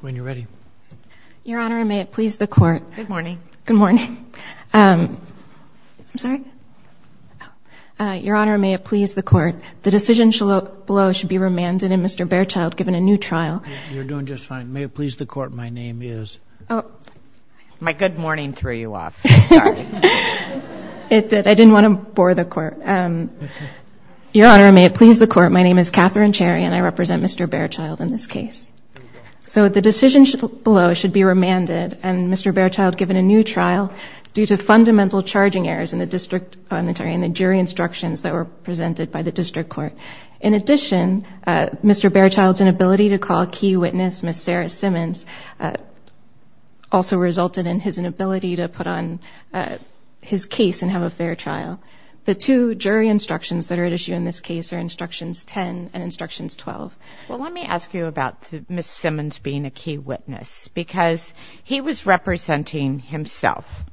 When you're ready. Your Honor, may it please the Court. Good morning. Good morning. I'm sorry? Your Honor, may it please the Court. The decision below should be remanded and Mr. Bearchild given a new trial. You're doing just fine. May it please the Court. My name is... My good morning threw you off. Sorry. It did. I didn't want to bore the Court. Your Honor, may it please the Court. My name is Katherine Cherry and I represent Mr. Bearchild in this case. The decision below should be remanded and Mr. Bearchild given a new trial due to fundamental charging errors in the jury instructions that were presented by the District Court. In addition, Mr. Bearchild's inability to call a key witness, Ms. Sarah Simmons, also resulted in his inability to put on his case and have a fair trial. The two jury instructions that are at issue in this case are Instructions 10 and Instructions 12. Well, let me ask you about Ms. Simmons being a key witness because he was representing himself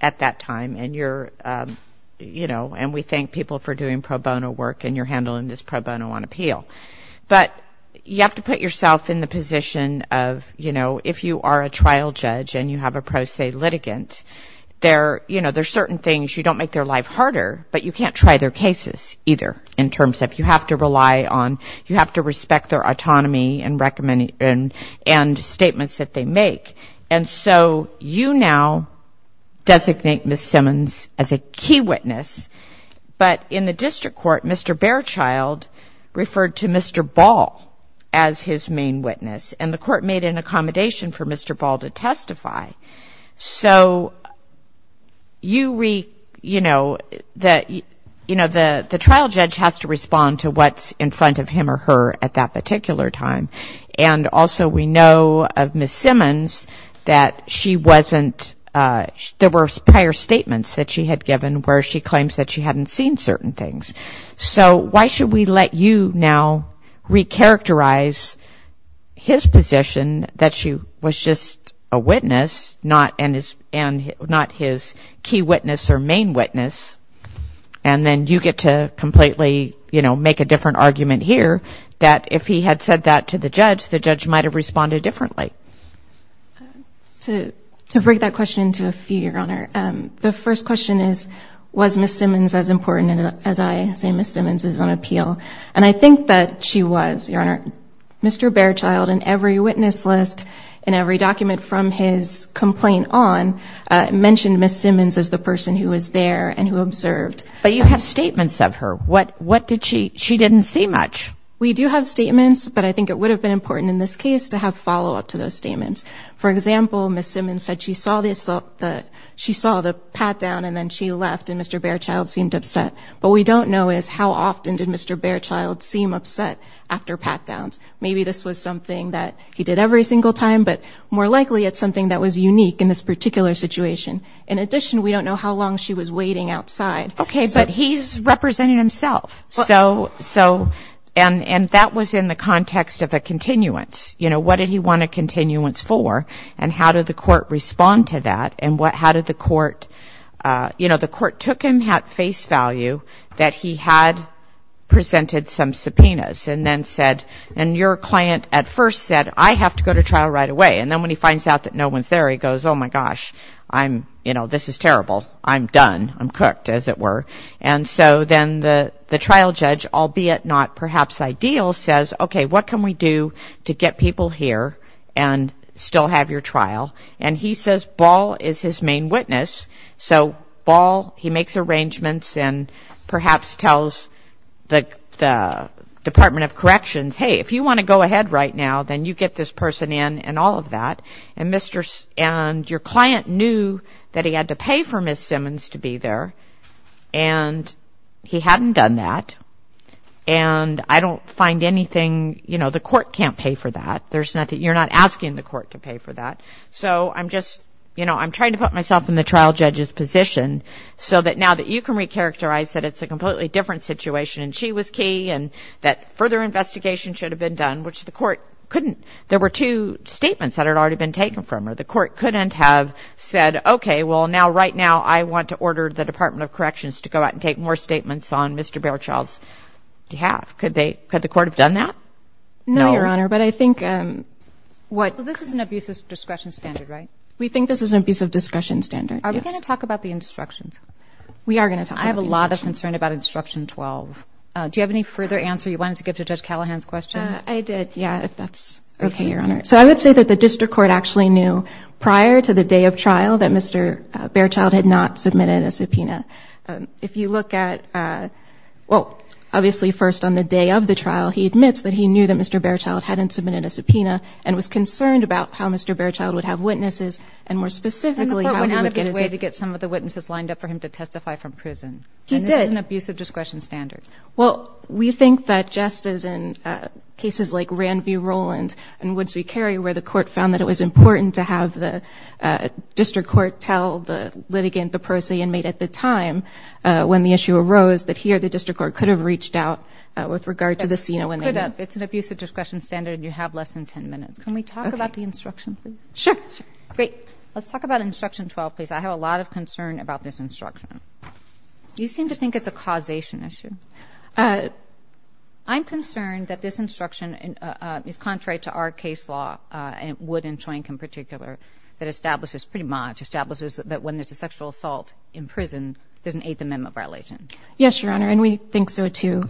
at that time and you're, you know, and we thank people for doing pro bono work and you're handling this pro bono on appeal. But you have to put yourself in the position of, you know, if you are a trial judge and you have a pro se litigant, you know, there's certain things you don't make their life harder, but you can't try their cases either in terms of you have to rely on, you have to respect their autonomy and statements that they make. And so you now designate Ms. Simmons as a key witness, but in the District Court, Mr. Bearchild referred to Mr. Ball as his main witness and the Court made an accommodation for Mr. Ball to testify. So you, you know, the trial judge has to respond to what's in front of him or her at that particular time. And also we know of Ms. Simmons that she wasn't, there were prior statements that she had given where she claims that she hadn't seen certain things. So why should we let you now recharacterize his position that she was just a witness, not his key witness or main witness, and then you get to completely, you know, make a different argument here that if he had said that to the judge, the judge might have responded differently. To break that question into a few, Your Honor, the first question is, was Ms. Simmons as important as I say Ms. Simmons is on appeal? And I think that she was, Your Honor. Mr. Bearchild in every witness list and every document from his complaint on mentioned Ms. Simmons as the person who was there and who observed. But you have statements of her. What did she, she didn't see much. We do have statements, but I think it would have been important in this case to have follow-up to those statements. For example, Ms. Simmons said she saw the, she saw the pat-down and then she left and Mr. Bearchild seemed upset. What we don't know is how often did Mr. Bearchild seem upset after pat-downs. Maybe this was something that he did every single time, but more likely it's something that was unique in this particular situation. In addition, we don't know how long she was waiting outside. Okay. But he's representing himself. So, and that was in the context of a continuance. You know, what did he want a continuance for and how did the court respond to that and how did the court, you know, the court took him at face value that he had presented some subpoenas and then said, and your client at first said, I have to go to trial right away. And then when he finds out that no one's there, he goes, oh, my gosh, I'm, you know, this is terrible. I'm done. I'm cooked, as it were. And so then the trial judge, albeit not perhaps ideal, says, okay, what can we do to get people here and still have your trial? And he says Ball is his main witness. So, Ball, he makes arrangements and perhaps tells the Department of Corrections, hey, if you want to go ahead right now, then you get this person in and all of that. And your client knew that he had to pay for Ms. Simmons to be there and he hadn't done that. And I don't find anything, you know, the court can't pay for that. There's nothing, you're not asking the court to pay for that. So, I'm just, you know, I'm trying to put myself in the trial judge's position so that now that you can recharacterize that it's a completely different situation and she was key and that further investigation should have been done, which the court couldn't. There were two statements that had already been taken from her. The court couldn't have said, okay, well, now, right now, I want to order the Department of Corrections to go out and take more statements on Mr. Baerchild's behalf. Could they, could the court have done that? No, Your Honor, but I think what... Well, this is an abuse of discretion standard, right? We think this is an abuse of discretion standard, yes. Are we going to talk about the instruction 12? We are going to talk about the instruction 12. I have a lot of concern about instruction 12. Do you have any further answer you wanted to give to Judge Callahan's question? I did, yeah, if that's okay, Your Honor. So, I would say that the district court actually knew prior to the day of trial that Mr. Baerchild had not submitted a subpoena. If you look at, well, obviously first on the day of the trial, he admits that he knew that Mr. Baerchild hadn't submitted a subpoena and was concerned about how Mr. Baerchild would have witnesses and, more specifically, how he would get his... And the court went out of his way to get some of the witnesses lined up for him to testify from prison. He did. And this is an abuse of discretion standard. Well, we think that just as in cases like Rand v. Roland and Woods v. Carey where the court found that it was important to have the district court tell the litigant, the pro se inmate at the time when the issue arose, that here the district court could have reached out with regard to the scene when they did. It's an abuse of discretion standard and you have less than 10 minutes. Can we talk about the instruction, please? Sure. Great. Let's talk about Instruction 12, please. I have a lot of concern about this instruction. You seem to think it's a causation issue. I'm concerned that this instruction is contrary to our case law, and Wood and Choink in particular, that establishes pretty much, establishes that when there's a sexual assault in prison, there's an Eighth Amendment violation. Yes, Your Honor. And we think so, too.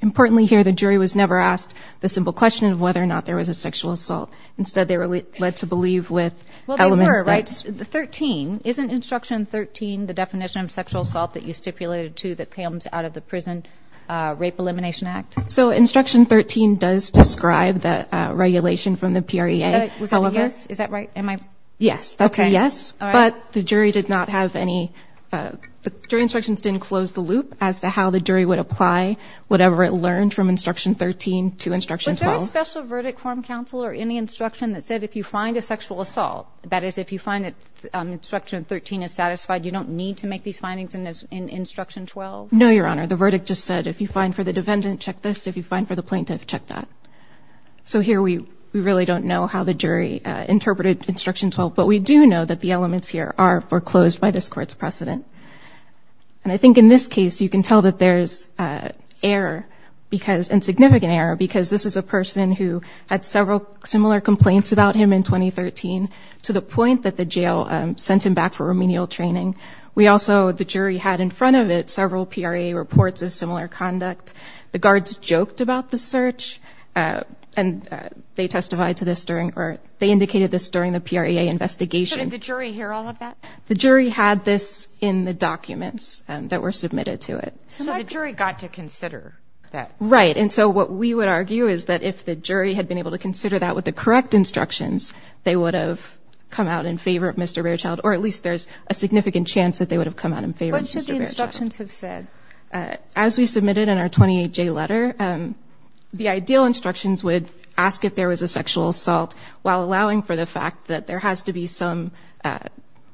Importantly here, the jury was never asked the simple question of whether or not there was a sexual assault. Instead, they were led to believe with elements that... Well, they were, right? Thirteen. Isn't Instruction 13 the definition of sexual assault that you stipulated, too, that comes out of the Prison Rape Elimination Act? So Instruction 13 does describe the regulation from the PREA. Was that a yes? Is that right? Am I... Yes. That's a yes, but the jury did not have any... The jury instructions didn't close the loop as to how the jury would apply whatever it learned from Instruction 13 to Instruction 12. Was there a special verdict from counsel or any instruction that said if you find a sexual assault, that is, if you find that Instruction 13 is satisfied, you don't need to make these findings in Instruction 12? No, Your Honor. The verdict just said if you find for the defendant, check this. If you find for the plaintiff, check that. So here, we really don't know how the jury interpreted Instruction 12, but we do know that the elements here are foreclosed by this Court's precedent. And I think in this case, you can tell that there's error because... And significant error because this is a person who had several similar complaints about him in 2013 to the point that the jail sent him back for remedial training. We also... The jury had in front of it several PREA reports of similar conduct. The guards joked about the search, and they testified to this during... Or they indicated this during the PREA investigation. Did the jury hear all of that? The jury had this in the documents that were submitted to it. So the jury got to consider that? Right. And so what we would argue is that if the jury had been able to consider that with the correct instructions, they would have come out in favor of Mr. Baerchild, or at least there's a significant chance that they would have come out in favor of Mr. Baerchild. And so we would argue that in the case of the 28J letter, the ideal instructions would ask if there was a sexual assault while allowing for the fact that there has to be some...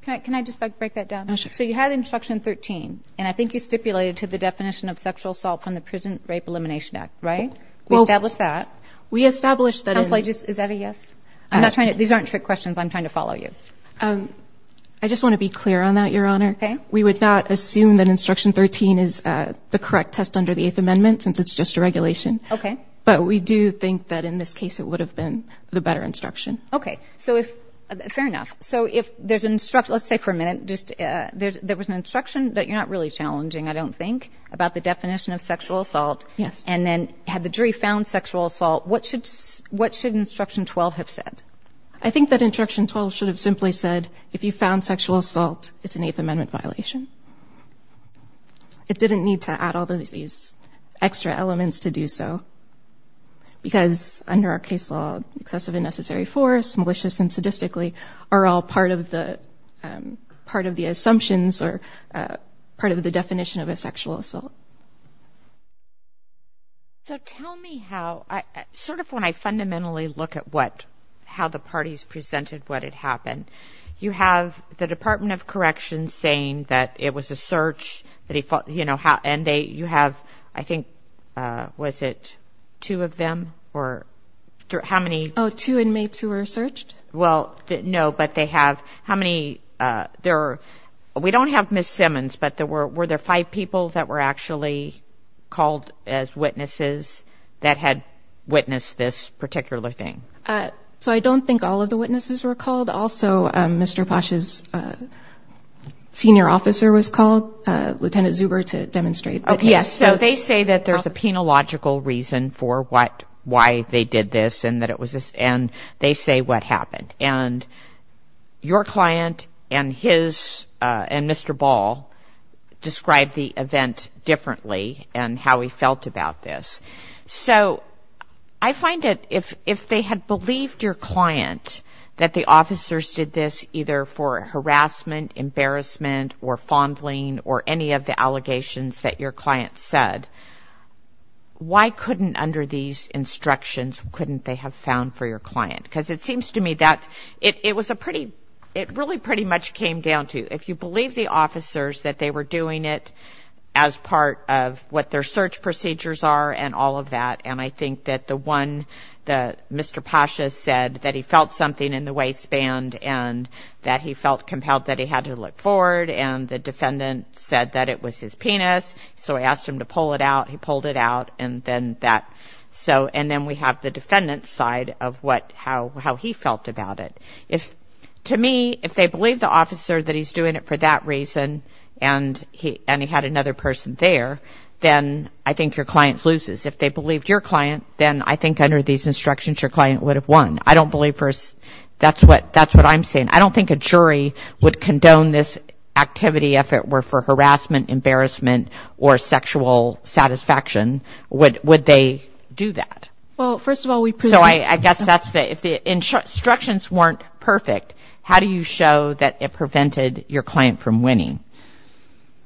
Can I just break that down? So you had Instruction 13, and I think you stipulated to the definition of sexual assault from the Prison Rape Elimination Act, right? We established that. Counsel, is that a yes? I'm not trying to... These aren't trick questions. I'm trying to follow you. Okay. Fair enough. So if there's an instruction... Let's say for a minute, there was an instruction that you're not really challenging, I don't think, about the definition of sexual assault, and then had the jury found sexual assault, what should Instruction 12 have said? I think that Instruction 12 should have simply said, if you found sexual assault, it's an Eighth Amendment violation. It didn't need to add all of these extra elements to do so, because under our case law, excessive and necessary force, malicious and sadistically, are all part of the assumptions or part of the definition of a sexual assault. So tell me how... Sort of when I fundamentally look at how the parties presented what had happened, you have the Department of Correction saying that if there's a sexual assault, it's an Eighth Amendment violation. It was a search. And you have, I think, was it two of them? Or how many... Oh, two inmates who were searched? Well, no, but they have... How many... We don't have Ms. Simmons, but were there five people that were actually called as witnesses that had witnessed this particular thing? So I don't think all of the witnesses were called. I don't know who was called, Lieutenant Zuber, to demonstrate, but yes. Okay, so they say that there's a penological reason for what, why they did this, and that it was a... And they say what happened. And your client and his, and Mr. Ball, described the event differently and how he felt about this. So I find that if they had believed your client that the officers did this either for harassment, embarrassment, or fondling, or any of the allegations that your client said, why couldn't, under these instructions, couldn't they have found for your client? Because it seems to me that it was a pretty... It really pretty much came down to if you believe the officers that they were doing it as part of what their search procedures are and all of that. And I think that the one that Mr. Pasha said, that he felt something in the waistband, and that he felt compelled that he had to look forward. And the defendant said that it was his penis, so he asked him to pull it out, he pulled it out, and then that. So, and then we have the defendant's side of what, how he felt about it. To me, if they believe the officer that he's doing it for that reason, and he had another person there, then I think your client loses. If they believed your client, then I think under these instructions, your client would have won. I don't believe, that's what I'm saying, I don't think a jury would condone this activity if it were for harassment, embarrassment, or sexual satisfaction. Would they do that? So I guess that's the, if the instructions weren't perfect, how do you show that it prevented your client from winning?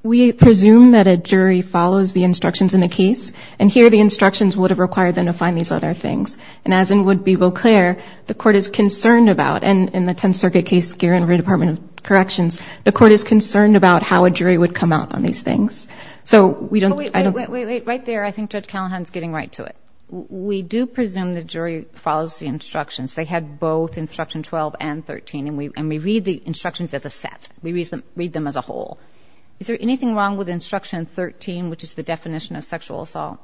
We presume that a jury follows the instructions in the case, and here the instructions would have required them to find these other things. And as it would be well clear, the court is concerned about, and in the Tenth Circuit case here in Redepartment of Corrections, the court is concerned about how a jury would come out on these things. Wait, wait, wait, right there, I think Judge Callahan's getting right to it. We do presume the jury follows the instructions, they had both instruction 12 and 13, and we read the instructions as a set, we read them as a whole. Is there anything wrong with instruction 13, which is the definition of sexual assault?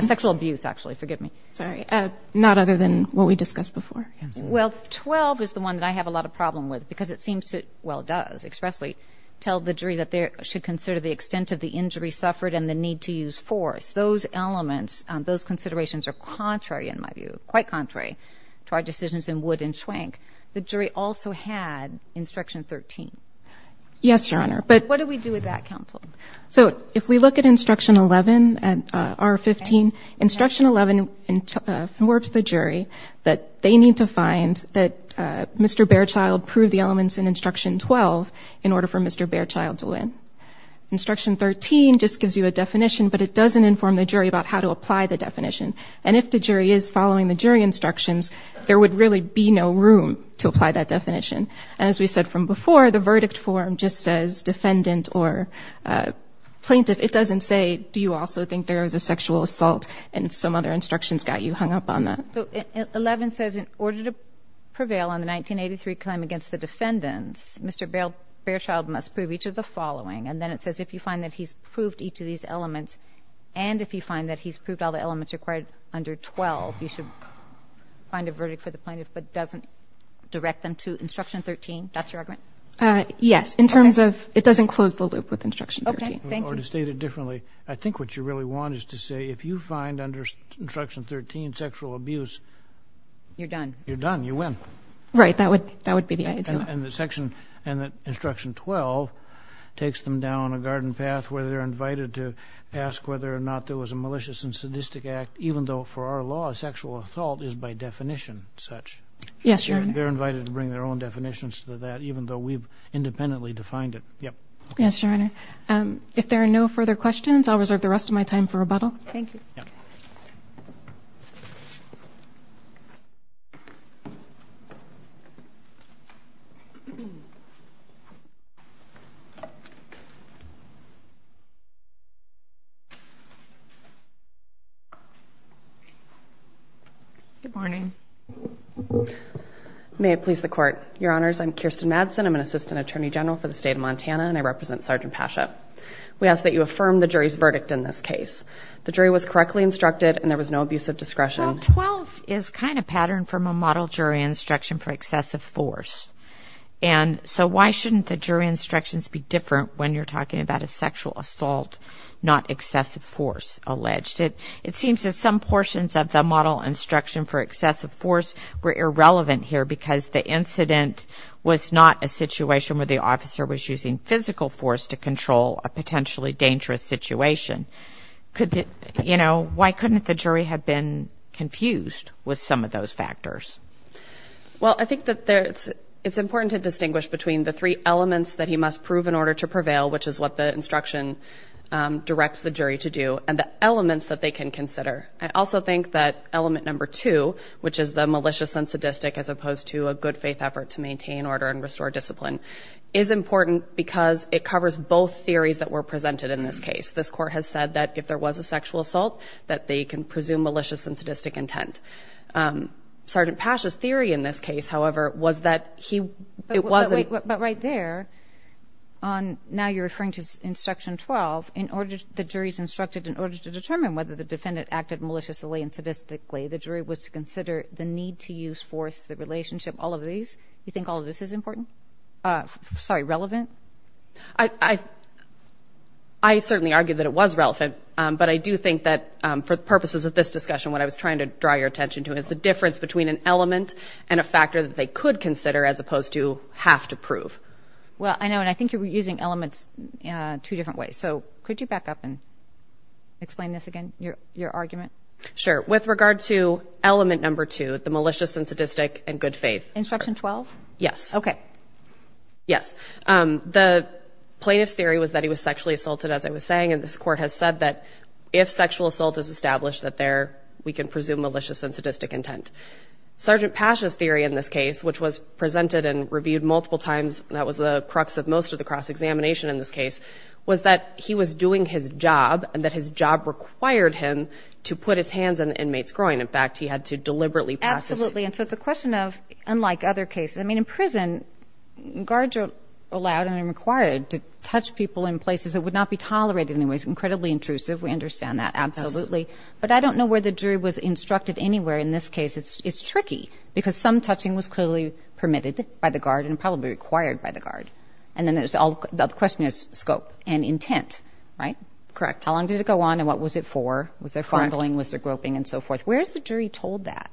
Sexual abuse, actually, forgive me. Sorry, not other than what we discussed before. Well, 12 is the one that I have a lot of problem with, because it seems to, well it does expressly, tell the jury that they should consider the extent of the injury suffered and the need to use force. Those elements, those considerations are contrary in my view, quite contrary to our decisions in Wood and Schwenk. The jury also had instruction 13. Yes, Your Honor, but... What do we do with that, counsel? So, if we look at instruction 11, R15, instruction 11 warps the jury that they need to find that Mr. Behrchild proved the elements in instruction 12 in order for Mr. Behrchild to win. Instruction 13 just gives you a definition, but it doesn't inform the jury about how to apply the definition. And if the jury is following the jury instructions, there would really be no room to apply that definition. And as we said from before, the verdict form just says defendant or plaintiff. It doesn't say, do you also think there was a sexual assault, and some other instructions got you hung up on that. So, 11 says in order to prevail on the 1983 claim against the defendants, Mr. Behrchild must prove each of the following. And then it says if you find that he's proved each of these elements, and if you find that he's proved all the elements required under 12, you should find a verdict for the plaintiff, but it doesn't direct them to instruction 13. That's your argument? Yes, in terms of, it doesn't close the loop with instruction 13. Okay, thank you. Or to state it differently, I think what you really want is to say if you find under instruction 13 sexual abuse, you're done. You're done. You win. Right, that would be the idea. And the section, instruction 12 takes them down a garden path where they're invited to ask whether or not there was a malicious and sadistic act, even though for our law, sexual assault is by definition such. Yes, Your Honor. They're invited to bring their own definitions to that, even though we've independently defined it. Yes, Your Honor. If there are no further questions, I'll reserve the rest of my time for rebuttal. Thank you. Good morning. May it please the Court. Your Honors, I'm Kirsten Madsen. I'm an Assistant Attorney General for the State of Montana, and I represent Sergeant Pasha. We ask that you affirm the jury's verdict in this case. The jury was correctly instructed, and there was no abuse of discretion. Well, 12 is kind of patterned from a model jury instruction for excessive force. And so why shouldn't the jury instructions be different when you're talking about a sexual assault, not excessive force alleged? It seems that some portions of the model instruction for excessive force were irrelevant here because the incident was not a situation where the officer was using physical force to control a potentially dangerous situation. You know, why couldn't the jury have been confused with some of those factors? Well, I think that it's important to distinguish between the three elements that he must prove in order to prevail, which is what the instruction directs the jury to do, and the elements that they can consider. I also think that element number two, which is the malicious and sadistic, as opposed to a good faith effort to maintain order and restore discipline, is important because it covers both theories that were presented in this case. This court has said that if there was a sexual assault, that they can presume malicious and sadistic intent. Sergeant Pasha's theory in this case, however, was that he... But right there, now you're referring to instruction 12, the jury's instructed in order to determine whether the defendant acted maliciously and sadistically, the jury was to consider the need to use force, the relationship, all of these. You think all of this is important? Sorry, relevant? I certainly argue that it was relevant, but I do think that for purposes of this discussion, what I was trying to draw your attention to is the difference between an element and a factor that they could consider as opposed to have to prove. Well, I know, and I think you're using elements two different ways, so could you back up and explain this again, your argument? Sure. With regard to element number two, the malicious and sadistic and good faith... Instruction 12? Yes. Okay. Yes. The plaintiff's theory was that he was sexually assaulted, as I was saying, and this court has said that if sexual assault is established, that we can presume malicious and sadistic intent. Sergeant Pasha's theory in this case, which was presented and reviewed multiple times, and that was the crux of most of the cross-examination in this case, was that he was doing his job, and that his job required him to put his hands on the inmate's groin. In fact, he had to deliberately pass his... Absolutely, and so it's a question of, unlike other cases, I mean, in prison, guards are allowed and required to touch people in places that would not be tolerated in any way. It's incredibly intrusive, we understand that, absolutely, but I don't know where the jury was instructed anywhere in this case. It's tricky, because some touching was clearly permitted by the guard and probably required by the guard, and then the question is scope and intent, right? Correct. How long did it go on, and what was it for? Was there fondling, was there groping, and so forth? Where is the jury told that?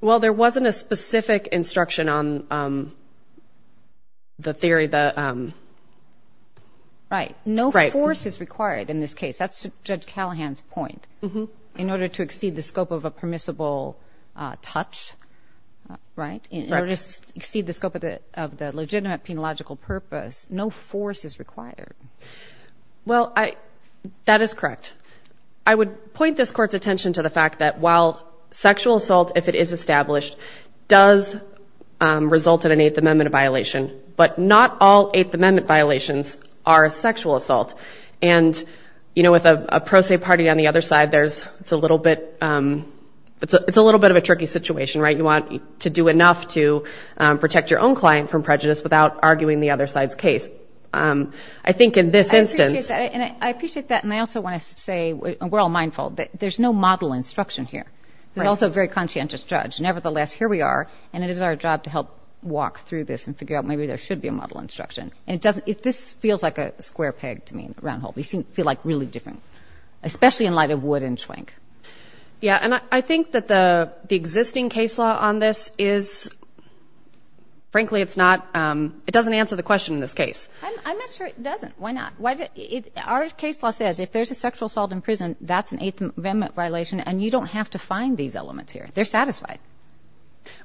Well, there wasn't a specific instruction on the theory that... Right. No force is required in this case. That's Judge Callahan's point. In order to exceed the scope of a permissible touch, right? In order to exceed the scope of the legitimate penological purpose, no force is required. Well, that is correct. I would point this Court's attention to the fact that while sexual assault, if it is established, does result in an Eighth Amendment violation, but not all Eighth Amendment violations are sexual assault, and with a pro se party on the other side, it's a little bit of a tricky situation, right? You want to do enough to protect your own client from prejudice without arguing the other side's case. I appreciate that, and I also want to say, and we're all mindful, that there's no model instruction here. There's also a very conscientious judge. Nevertheless, here we are, and it is our job to help walk through this and figure out maybe there should be a model instruction. And this feels like a square peg to me, a round hole. These feel like really different, especially in light of Wood and Schwenk. Yeah, and I think that the existing case law on this is, frankly, it's not, it doesn't answer the question in this case. I'm not sure it doesn't. Why not? Our case law says if there's a sexual assault in prison, that's an Eighth Amendment violation, and you don't have to find these elements here. They're satisfied.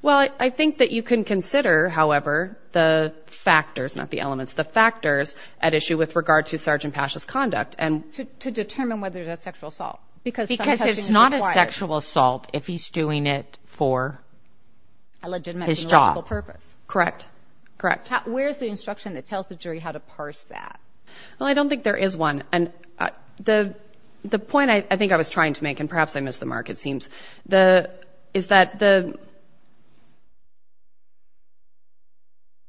Well, I think that you can consider, however, the factors, not the elements, the factors at issue with regard to Sgt. Pasha's conduct. To determine whether there's a sexual assault. Because it's not a sexual assault if he's doing it for his job. Correct, correct. Where's the instruction that tells the jury how to parse that? Well, I don't think there is one. And the point I think I was trying to make, and perhaps I missed the mark, it seems, is that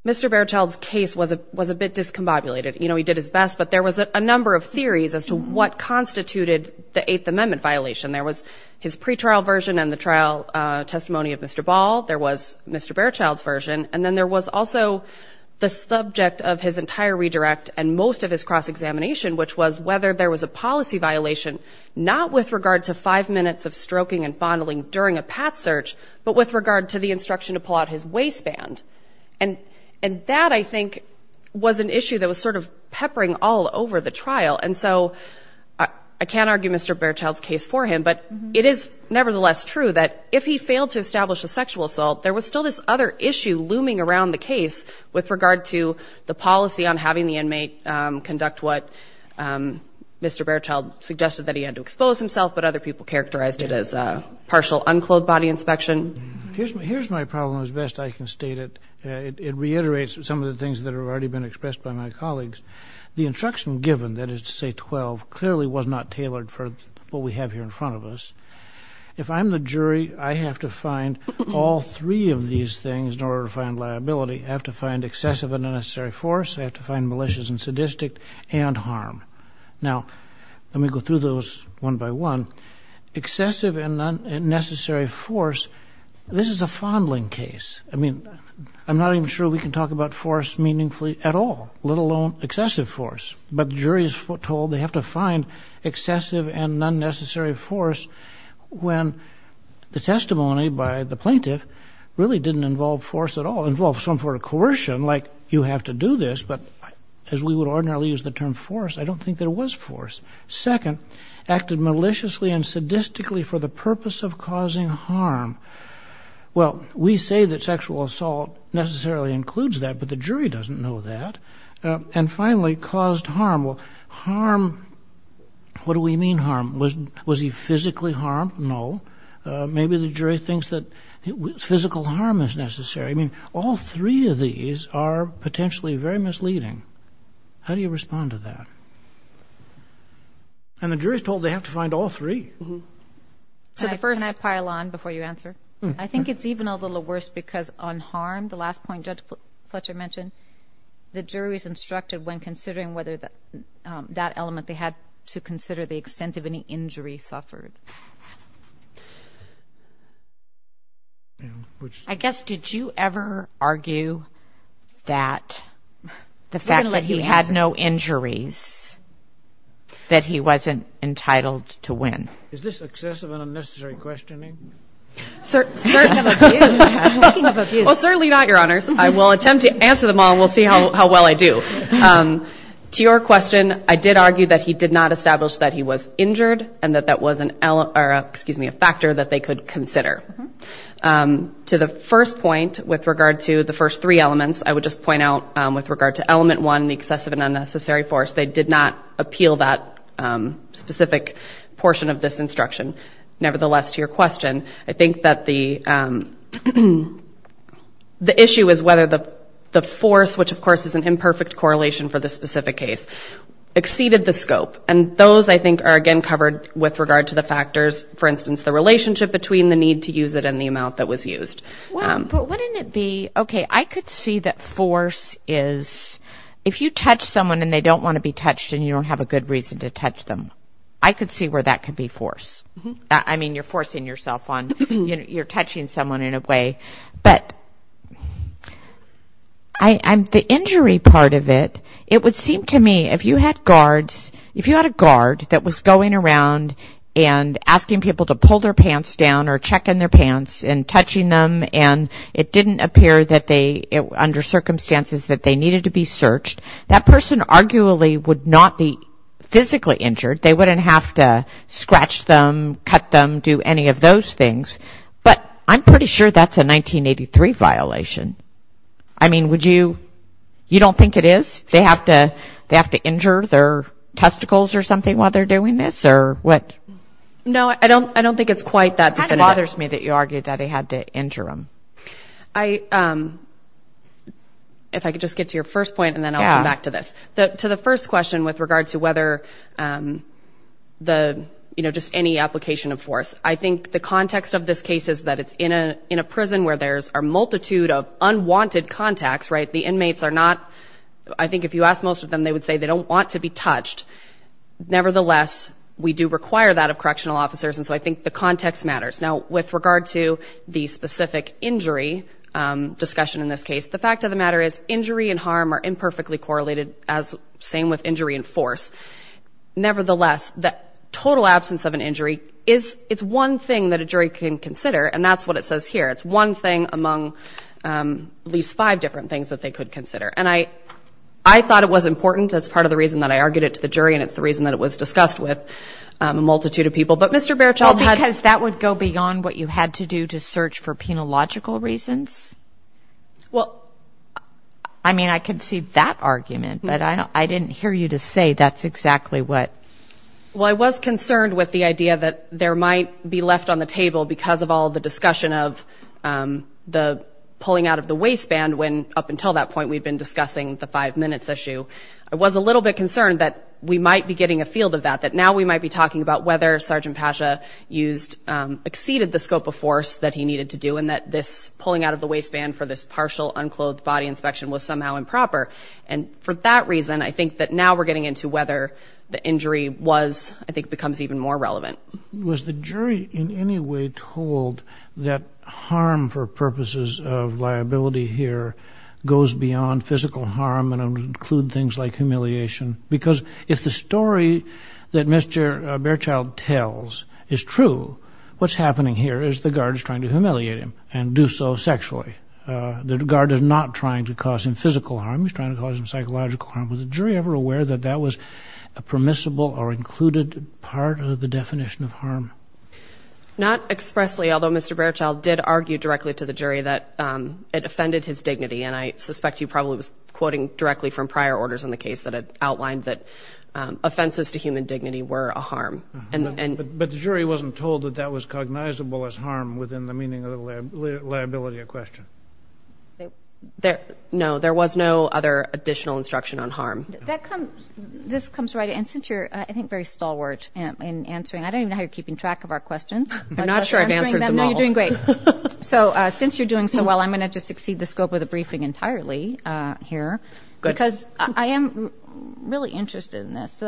Mr. Baerchild's case was a bit discombobulated. You know, he did his best, but there was a number of theories as to what constituted the Eighth Amendment violation. There was his pretrial version and the trial testimony of Mr. Ball. There was his pre-trial version, and then there was also the subject of his entire redirect and most of his cross-examination, which was whether there was a policy violation, not with regard to five minutes of stroking and fondling during a pat search, but with regard to the instruction to pull out his waistband. And that, I think, was an issue that was sort of peppering all over the trial. And so, I can't argue Mr. Baerchild's case for him, but it is nevertheless true that if he failed to establish a sexual assault, there was still this other issue that was sort of peppering all over the trial. And so, I can't argue Mr. Baerchild's case for him, but it is nevertheless true that if he failed to establish a sexual assault, there was still this other issue looming around the case with regard to the policy on having the inmate conduct what Mr. Baerchild suggested that he had to expose himself, but other people characterized it as partial unclothed body inspection. Here's my problem as best I can state it. It reiterates some of the things that have already been expressed by my colleagues. The instruction given, that is to say 12, clearly was not tailored for what we have here in front of us. I have to find liability, I have to find excessive and unnecessary force, I have to find malicious and sadistic and harm. Now, let me go through those one by one. Excessive and unnecessary force, this is a fondling case. I mean, I'm not even sure we can talk about force meaningfully at all, let alone excessive force. But the jury is told they have to find excessive and unnecessary force when the testimony by the plaintiff really didn't involve force at all. It involved some sort of coercion, like you have to do this, but as we would ordinarily use the term force, I don't think there was force. Second, acted maliciously and sadistically for the purpose of causing harm. Well, we say that sexual assault necessarily includes that, but the jury doesn't know that. And finally, caused harm. Well, harm, what do we mean harm? Was he physically harmed? No. Maybe the jury thinks that physical harm is necessary. I mean, all three of these are potentially very misleading. How do you respond to that? And the jury is told they have to find all three. Can I pile on before you answer? I think it's even a little worse because on harm, the last point Judge Fletcher mentioned, the jury is instructed when considering whether that element they had to consider the extent of any injury suffered. I guess, did you ever argue that the fact that he had no injuries, that he wasn't entitled to win? Is this excessive and unnecessary questioning? Well, certainly not, Your Honors. I will attempt to answer them all and we'll see how well I do. To your question, I did argue that he did not establish that he was injured and that that was a factor that they could consider. To the first point, with regard to the first three elements, I would just point out with regard to element one, the excessive and unnecessary force, they did not appeal that specific portion of this instruction. Nevertheless, to your question, I think that the issue is whether the force, which of course is an imperfect correlation for this specific case, exceeded the scope. And those, I think, are again covered with regard to the factors, for instance, the relationship between the need to use it and the amount that was used. But wouldn't it be, okay, I could see that force is, if you touch someone and they don't want to be touched and you don't have a good reason to touch them, I could see where that could be force. I mean, you're forcing yourself on, you're touching someone in a way, but the injury part of it, it would seem to me, if you had guards, if you had a guard that was going around and asking people to pull their pants down or checking their pants and touching them and it didn't appear that they, under circumstances that they needed to be searched, that person arguably would not be physically injured. They wouldn't have to scratch them, cut them, do any of those things. But I'm pretty sure that's a 1983 violation. I mean, would you, you don't think it is? They have to injure their testicles or something while they're doing this or what? No, I don't think it's quite that definitive. It kind of bothers me that you argue that they had to injure them. If I could just get to your first point and then I'll come back to this. To the first question with regard to whether the, you know, just any application of force, I think the context of this case is that it's in a prison where there's a multitude of unwanted contacts, right? The inmates are not, I think if you ask most of them, they would say they don't want to be touched. Nevertheless, we do require that of correctional officers, and so I think the context matters. Now, with regard to the specific injury discussion in this case, the fact of the matter is injury and harm are imperfectly correlated as same with injury and force. Nevertheless, the total absence of an injury is, it's one thing that a jury can consider, and that's what it says here. It's one thing among at least five different things that they could consider, and I thought it was important. That's part of the reason that I argued it to the jury, and it's the reason that it was discussed with a multitude of people. But Mr. Berthold had... Well, I was concerned with the idea that there might be left on the table because of all the discussion of the pulling out of the waistband, when up until that point we'd been discussing the five minutes issue. I was a little bit concerned that we might be getting a field of that, that now we might be talking about whether Sergeant Pasha used, exceeded the scope of force that he needed to do, and that this pulling out of the waistband for this partial unclothed body inspection was somehow improper. And for that reason, I think that now we're getting into whether the injury was, I think, becomes even more relevant. Was the jury in any way told that harm for purposes of liability here goes beyond physical harm and include things like humiliation? Because if the story that Mr. Berthold tells is true, what's happening here is the guard is trying to humiliate him and do so sexually. The guard is not trying to cause him physical harm, he's trying to cause him psychological harm. Was the jury ever aware that that was a permissible or included part of the definition of harm? Not expressly, although Mr. Berthold did argue directly to the jury that it offended his dignity, and I suspect he probably was quoting directly from prior orders in the case that outlined that that was cognizable as harm within the meaning of the liability of question. No, there was no other additional instruction on harm. This comes right in, and since you're, I think, very stalwart in answering, I don't even know how you're keeping track of our questions. I'm not sure I've answered them all. No, you're doing great. So since you're doing so well, I'm going to just exceed the scope of the briefing entirely here. Good. Because I am really interested in this.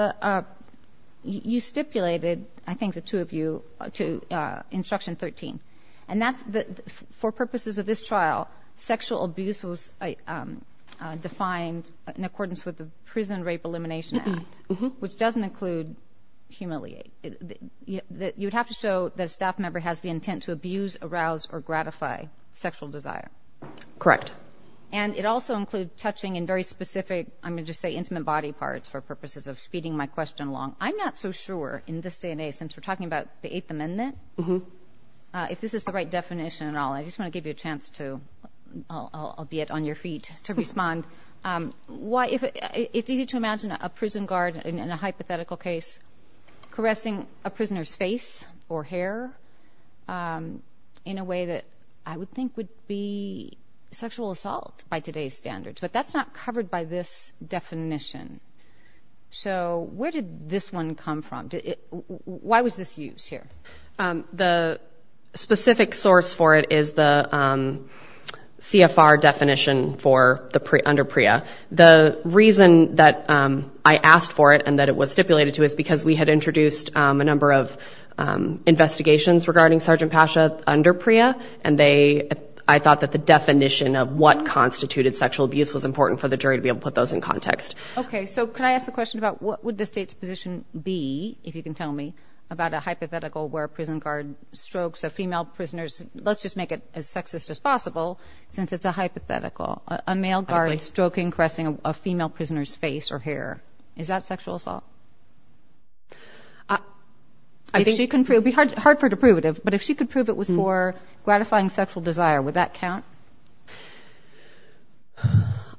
You stipulated, I think the two of you, to Instruction 13, and for purposes of this trial, sexual abuse was defined in accordance with the Prison Rape Elimination Act, which doesn't include humiliate. You would have to show that a staff member has the intent to abuse, arouse, or gratify sexual desire. Correct. And it also includes touching in very specific, I'm going to just say intimate body parts for purposes of speeding my question along. I'm not so sure in this day and age, since we're talking about the Eighth Amendment, if this is the right definition at all. I just want to give you a chance to, albeit on your feet, to respond. It's easy to imagine a prison guard in a hypothetical case caressing a prisoner's face or hair in a way that I would think would be sexual assault by today's standards. But that's not covered by this definition. So where did this one come from? Why was this used here? The specific source for it is the CFR definition under PREA. The reason that I asked for it and that it was stipulated to is because we had introduced a number of investigations regarding Sergeant Pasha under PREA, and I thought that the definition of what constituted sexual abuse was important for the jury to be able to put those in context. Okay, so can I ask the question about what would the State's position be, if you can tell me, about a hypothetical where a prison guard strokes a female prisoner's, let's just make it as sexist as possible, since it's a hypothetical, a male guard stroking, caressing a female prisoner's face or hair, is that sexual assault? It would be hard for her to prove it, but if she could prove it was for gratifying sexual desire, would that count?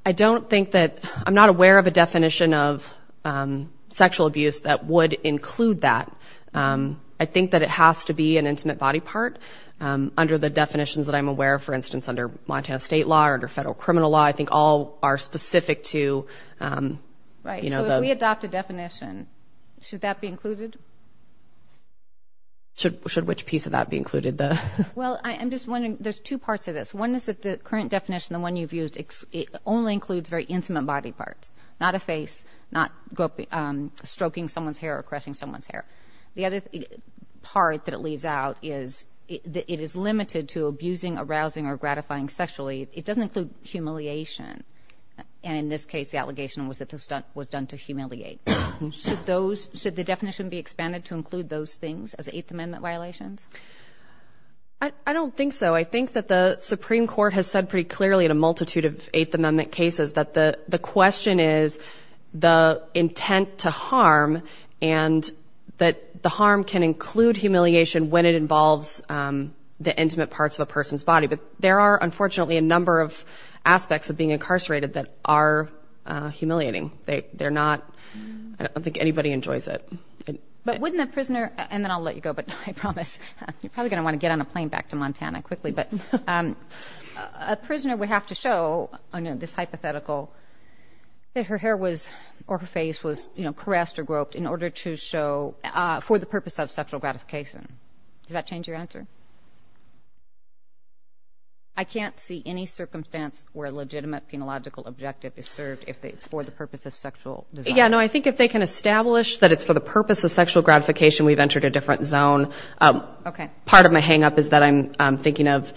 I don't think that, I'm not aware of a definition of sexual abuse that would include that. I think that it has to be an intimate body part. Under the definitions that I'm aware of, for instance, under Montana State law or under federal criminal law, I think all are specific to... Right, so if we adopt a definition, should that be included? Should which piece of that be included? Well, I'm just wondering, there's two parts to this. One is that the current definition, the one you've used, only includes very intimate body parts, not a face, not stroking someone's hair or caressing someone's hair. The other part that it leaves out is that it is limited to abusing, arousing or gratifying sexually. It doesn't include humiliation. And in this case, the allegation was that it was done to humiliate. Should the definition be expanded to include those things as Eighth Amendment violations? I don't think so. I think that the Supreme Court has said pretty clearly in a multitude of Eighth Amendment cases that the question is the intent to harm, and that the harm can include humiliation when it involves the intimate parts of a person's body. But there are, unfortunately, a number of aspects of being incarcerated that are humiliating. They're not, I don't think anybody enjoys it. But wouldn't a prisoner, and then I'll let you go, but I promise, you're probably going to want to get on a plane back to Montana quickly, but a prisoner would have to show, under this hypothetical, that her hair was, or her face was, you know, I can't see any circumstance where a legitimate penological objective is served if it's for the purpose of sexual desire. Yeah, no, I think if they can establish that it's for the purpose of sexual gratification, we've entered a different zone. Part of my hang-up is that I'm thinking of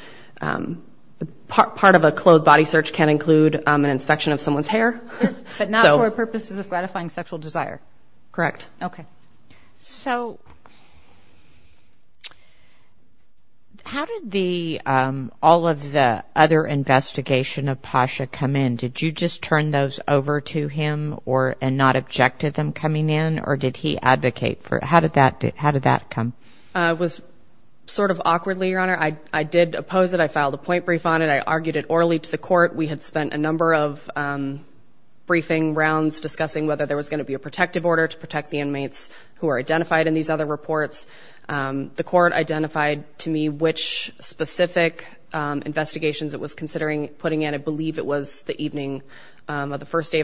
part of a clothed body search can include an inspection of someone's hair. But not for purposes of gratifying sexual desire. Correct. Okay. So how did all of the other investigation of Pasha come in? Did you just turn those over to him and not object to them coming in, or did he advocate for it? How did that come? It was sort of awkwardly, Your Honor. I did oppose it. I filed a point brief on it. I argued it orally to the court. We had spent a number of briefing rounds discussing whether there was going to be a protective order to protect the inmates who are coming in over my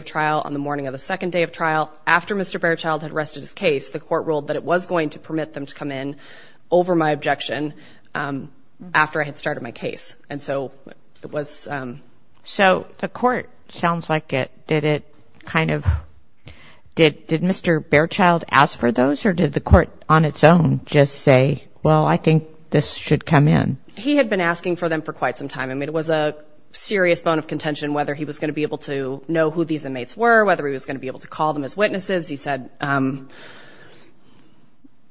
objection after I had started my case. And so it was... So the court, sounds like it, did Mr. Behrchild ask for those, or did the court on its own just say, well, I think this should come in? He had been asking for them for quite some time. I mean, it was a serious bone of contention whether he was going to be able to know who these inmates were, whether he was going to be able to call them as witnesses. I think he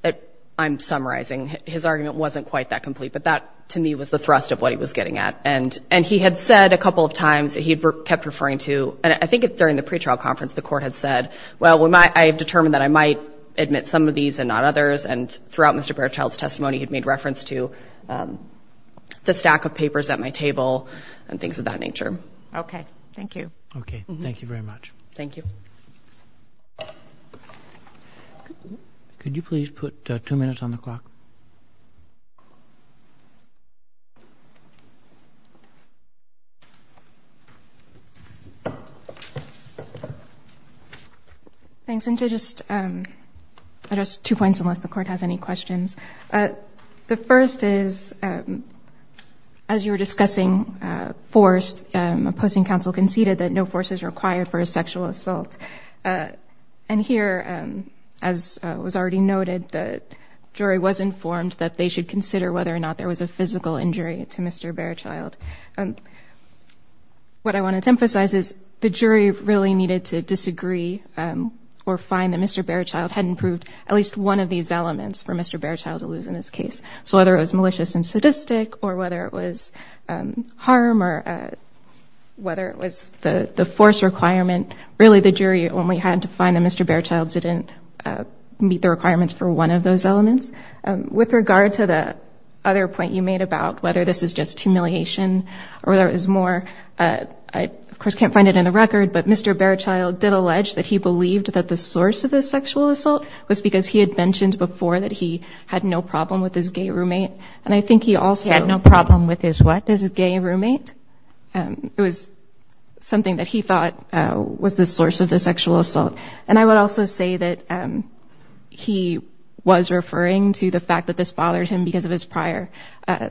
was just summarizing. His argument wasn't quite that complete, but that to me was the thrust of what he was getting at. And he had said a couple of times that he had kept referring to... And I think during the pretrial conference the court had said, well, I have determined that I might admit some of these and not others. And throughout Mr. Behrchild's testimony he had made reference to the stack of papers at my table and things of that nature. Okay. Thank you. Could you please put two minutes on the clock? Thanks. And to just address two points, unless the court has any questions. The first is, as you were discussing force, opposing counsel conceded that no force is required for a sexual assault. And here, as was already noted, the jury was informed that they should consider whether or not there was a physical injury to Mr. Behrchild. What I wanted to emphasize is the jury really needed to disagree or find that Mr. Behrchild had improved at least one of these elements for Mr. Behrchild. So whether it was malicious and sadistic, or whether it was harm, or whether it was the force requirement, really the jury only had to find that Mr. Behrchild didn't meet the requirements for one of those elements. With regard to the other point you made about whether this is just humiliation, or whether it was more... I, of course, can't find it in the record, but Mr. Behrchild did allege that he believed that the source of the sexual assault was because he had mentioned before that he had never been sexually assaulted. He had no problem with his gay roommate. It was something that he thought was the source of the sexual assault. And I would also say that he was referring to the fact that this bothered him because of his prior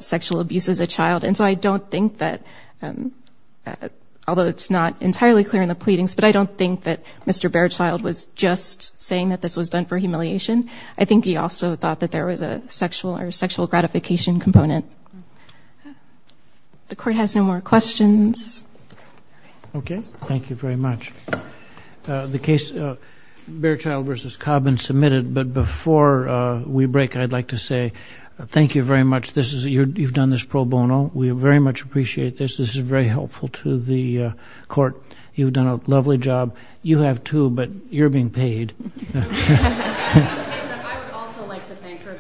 sexual abuse as a child. And so I don't think that, although it's not entirely clear in the pleadings, but I don't think that Mr. Behrchild was just saying that this was done for humiliation. I think he also thought that there was a sexual gratification component. The Court has no more questions. Thank you very much. The case Behrchild v. Cobb been submitted, but before we break, I'd like to say thank you very much. You've done this pro bono. We very much appreciate this. This is very helpful to the Court. You've done a lovely job. You have, too, but you're being paid. I would also like to thank her.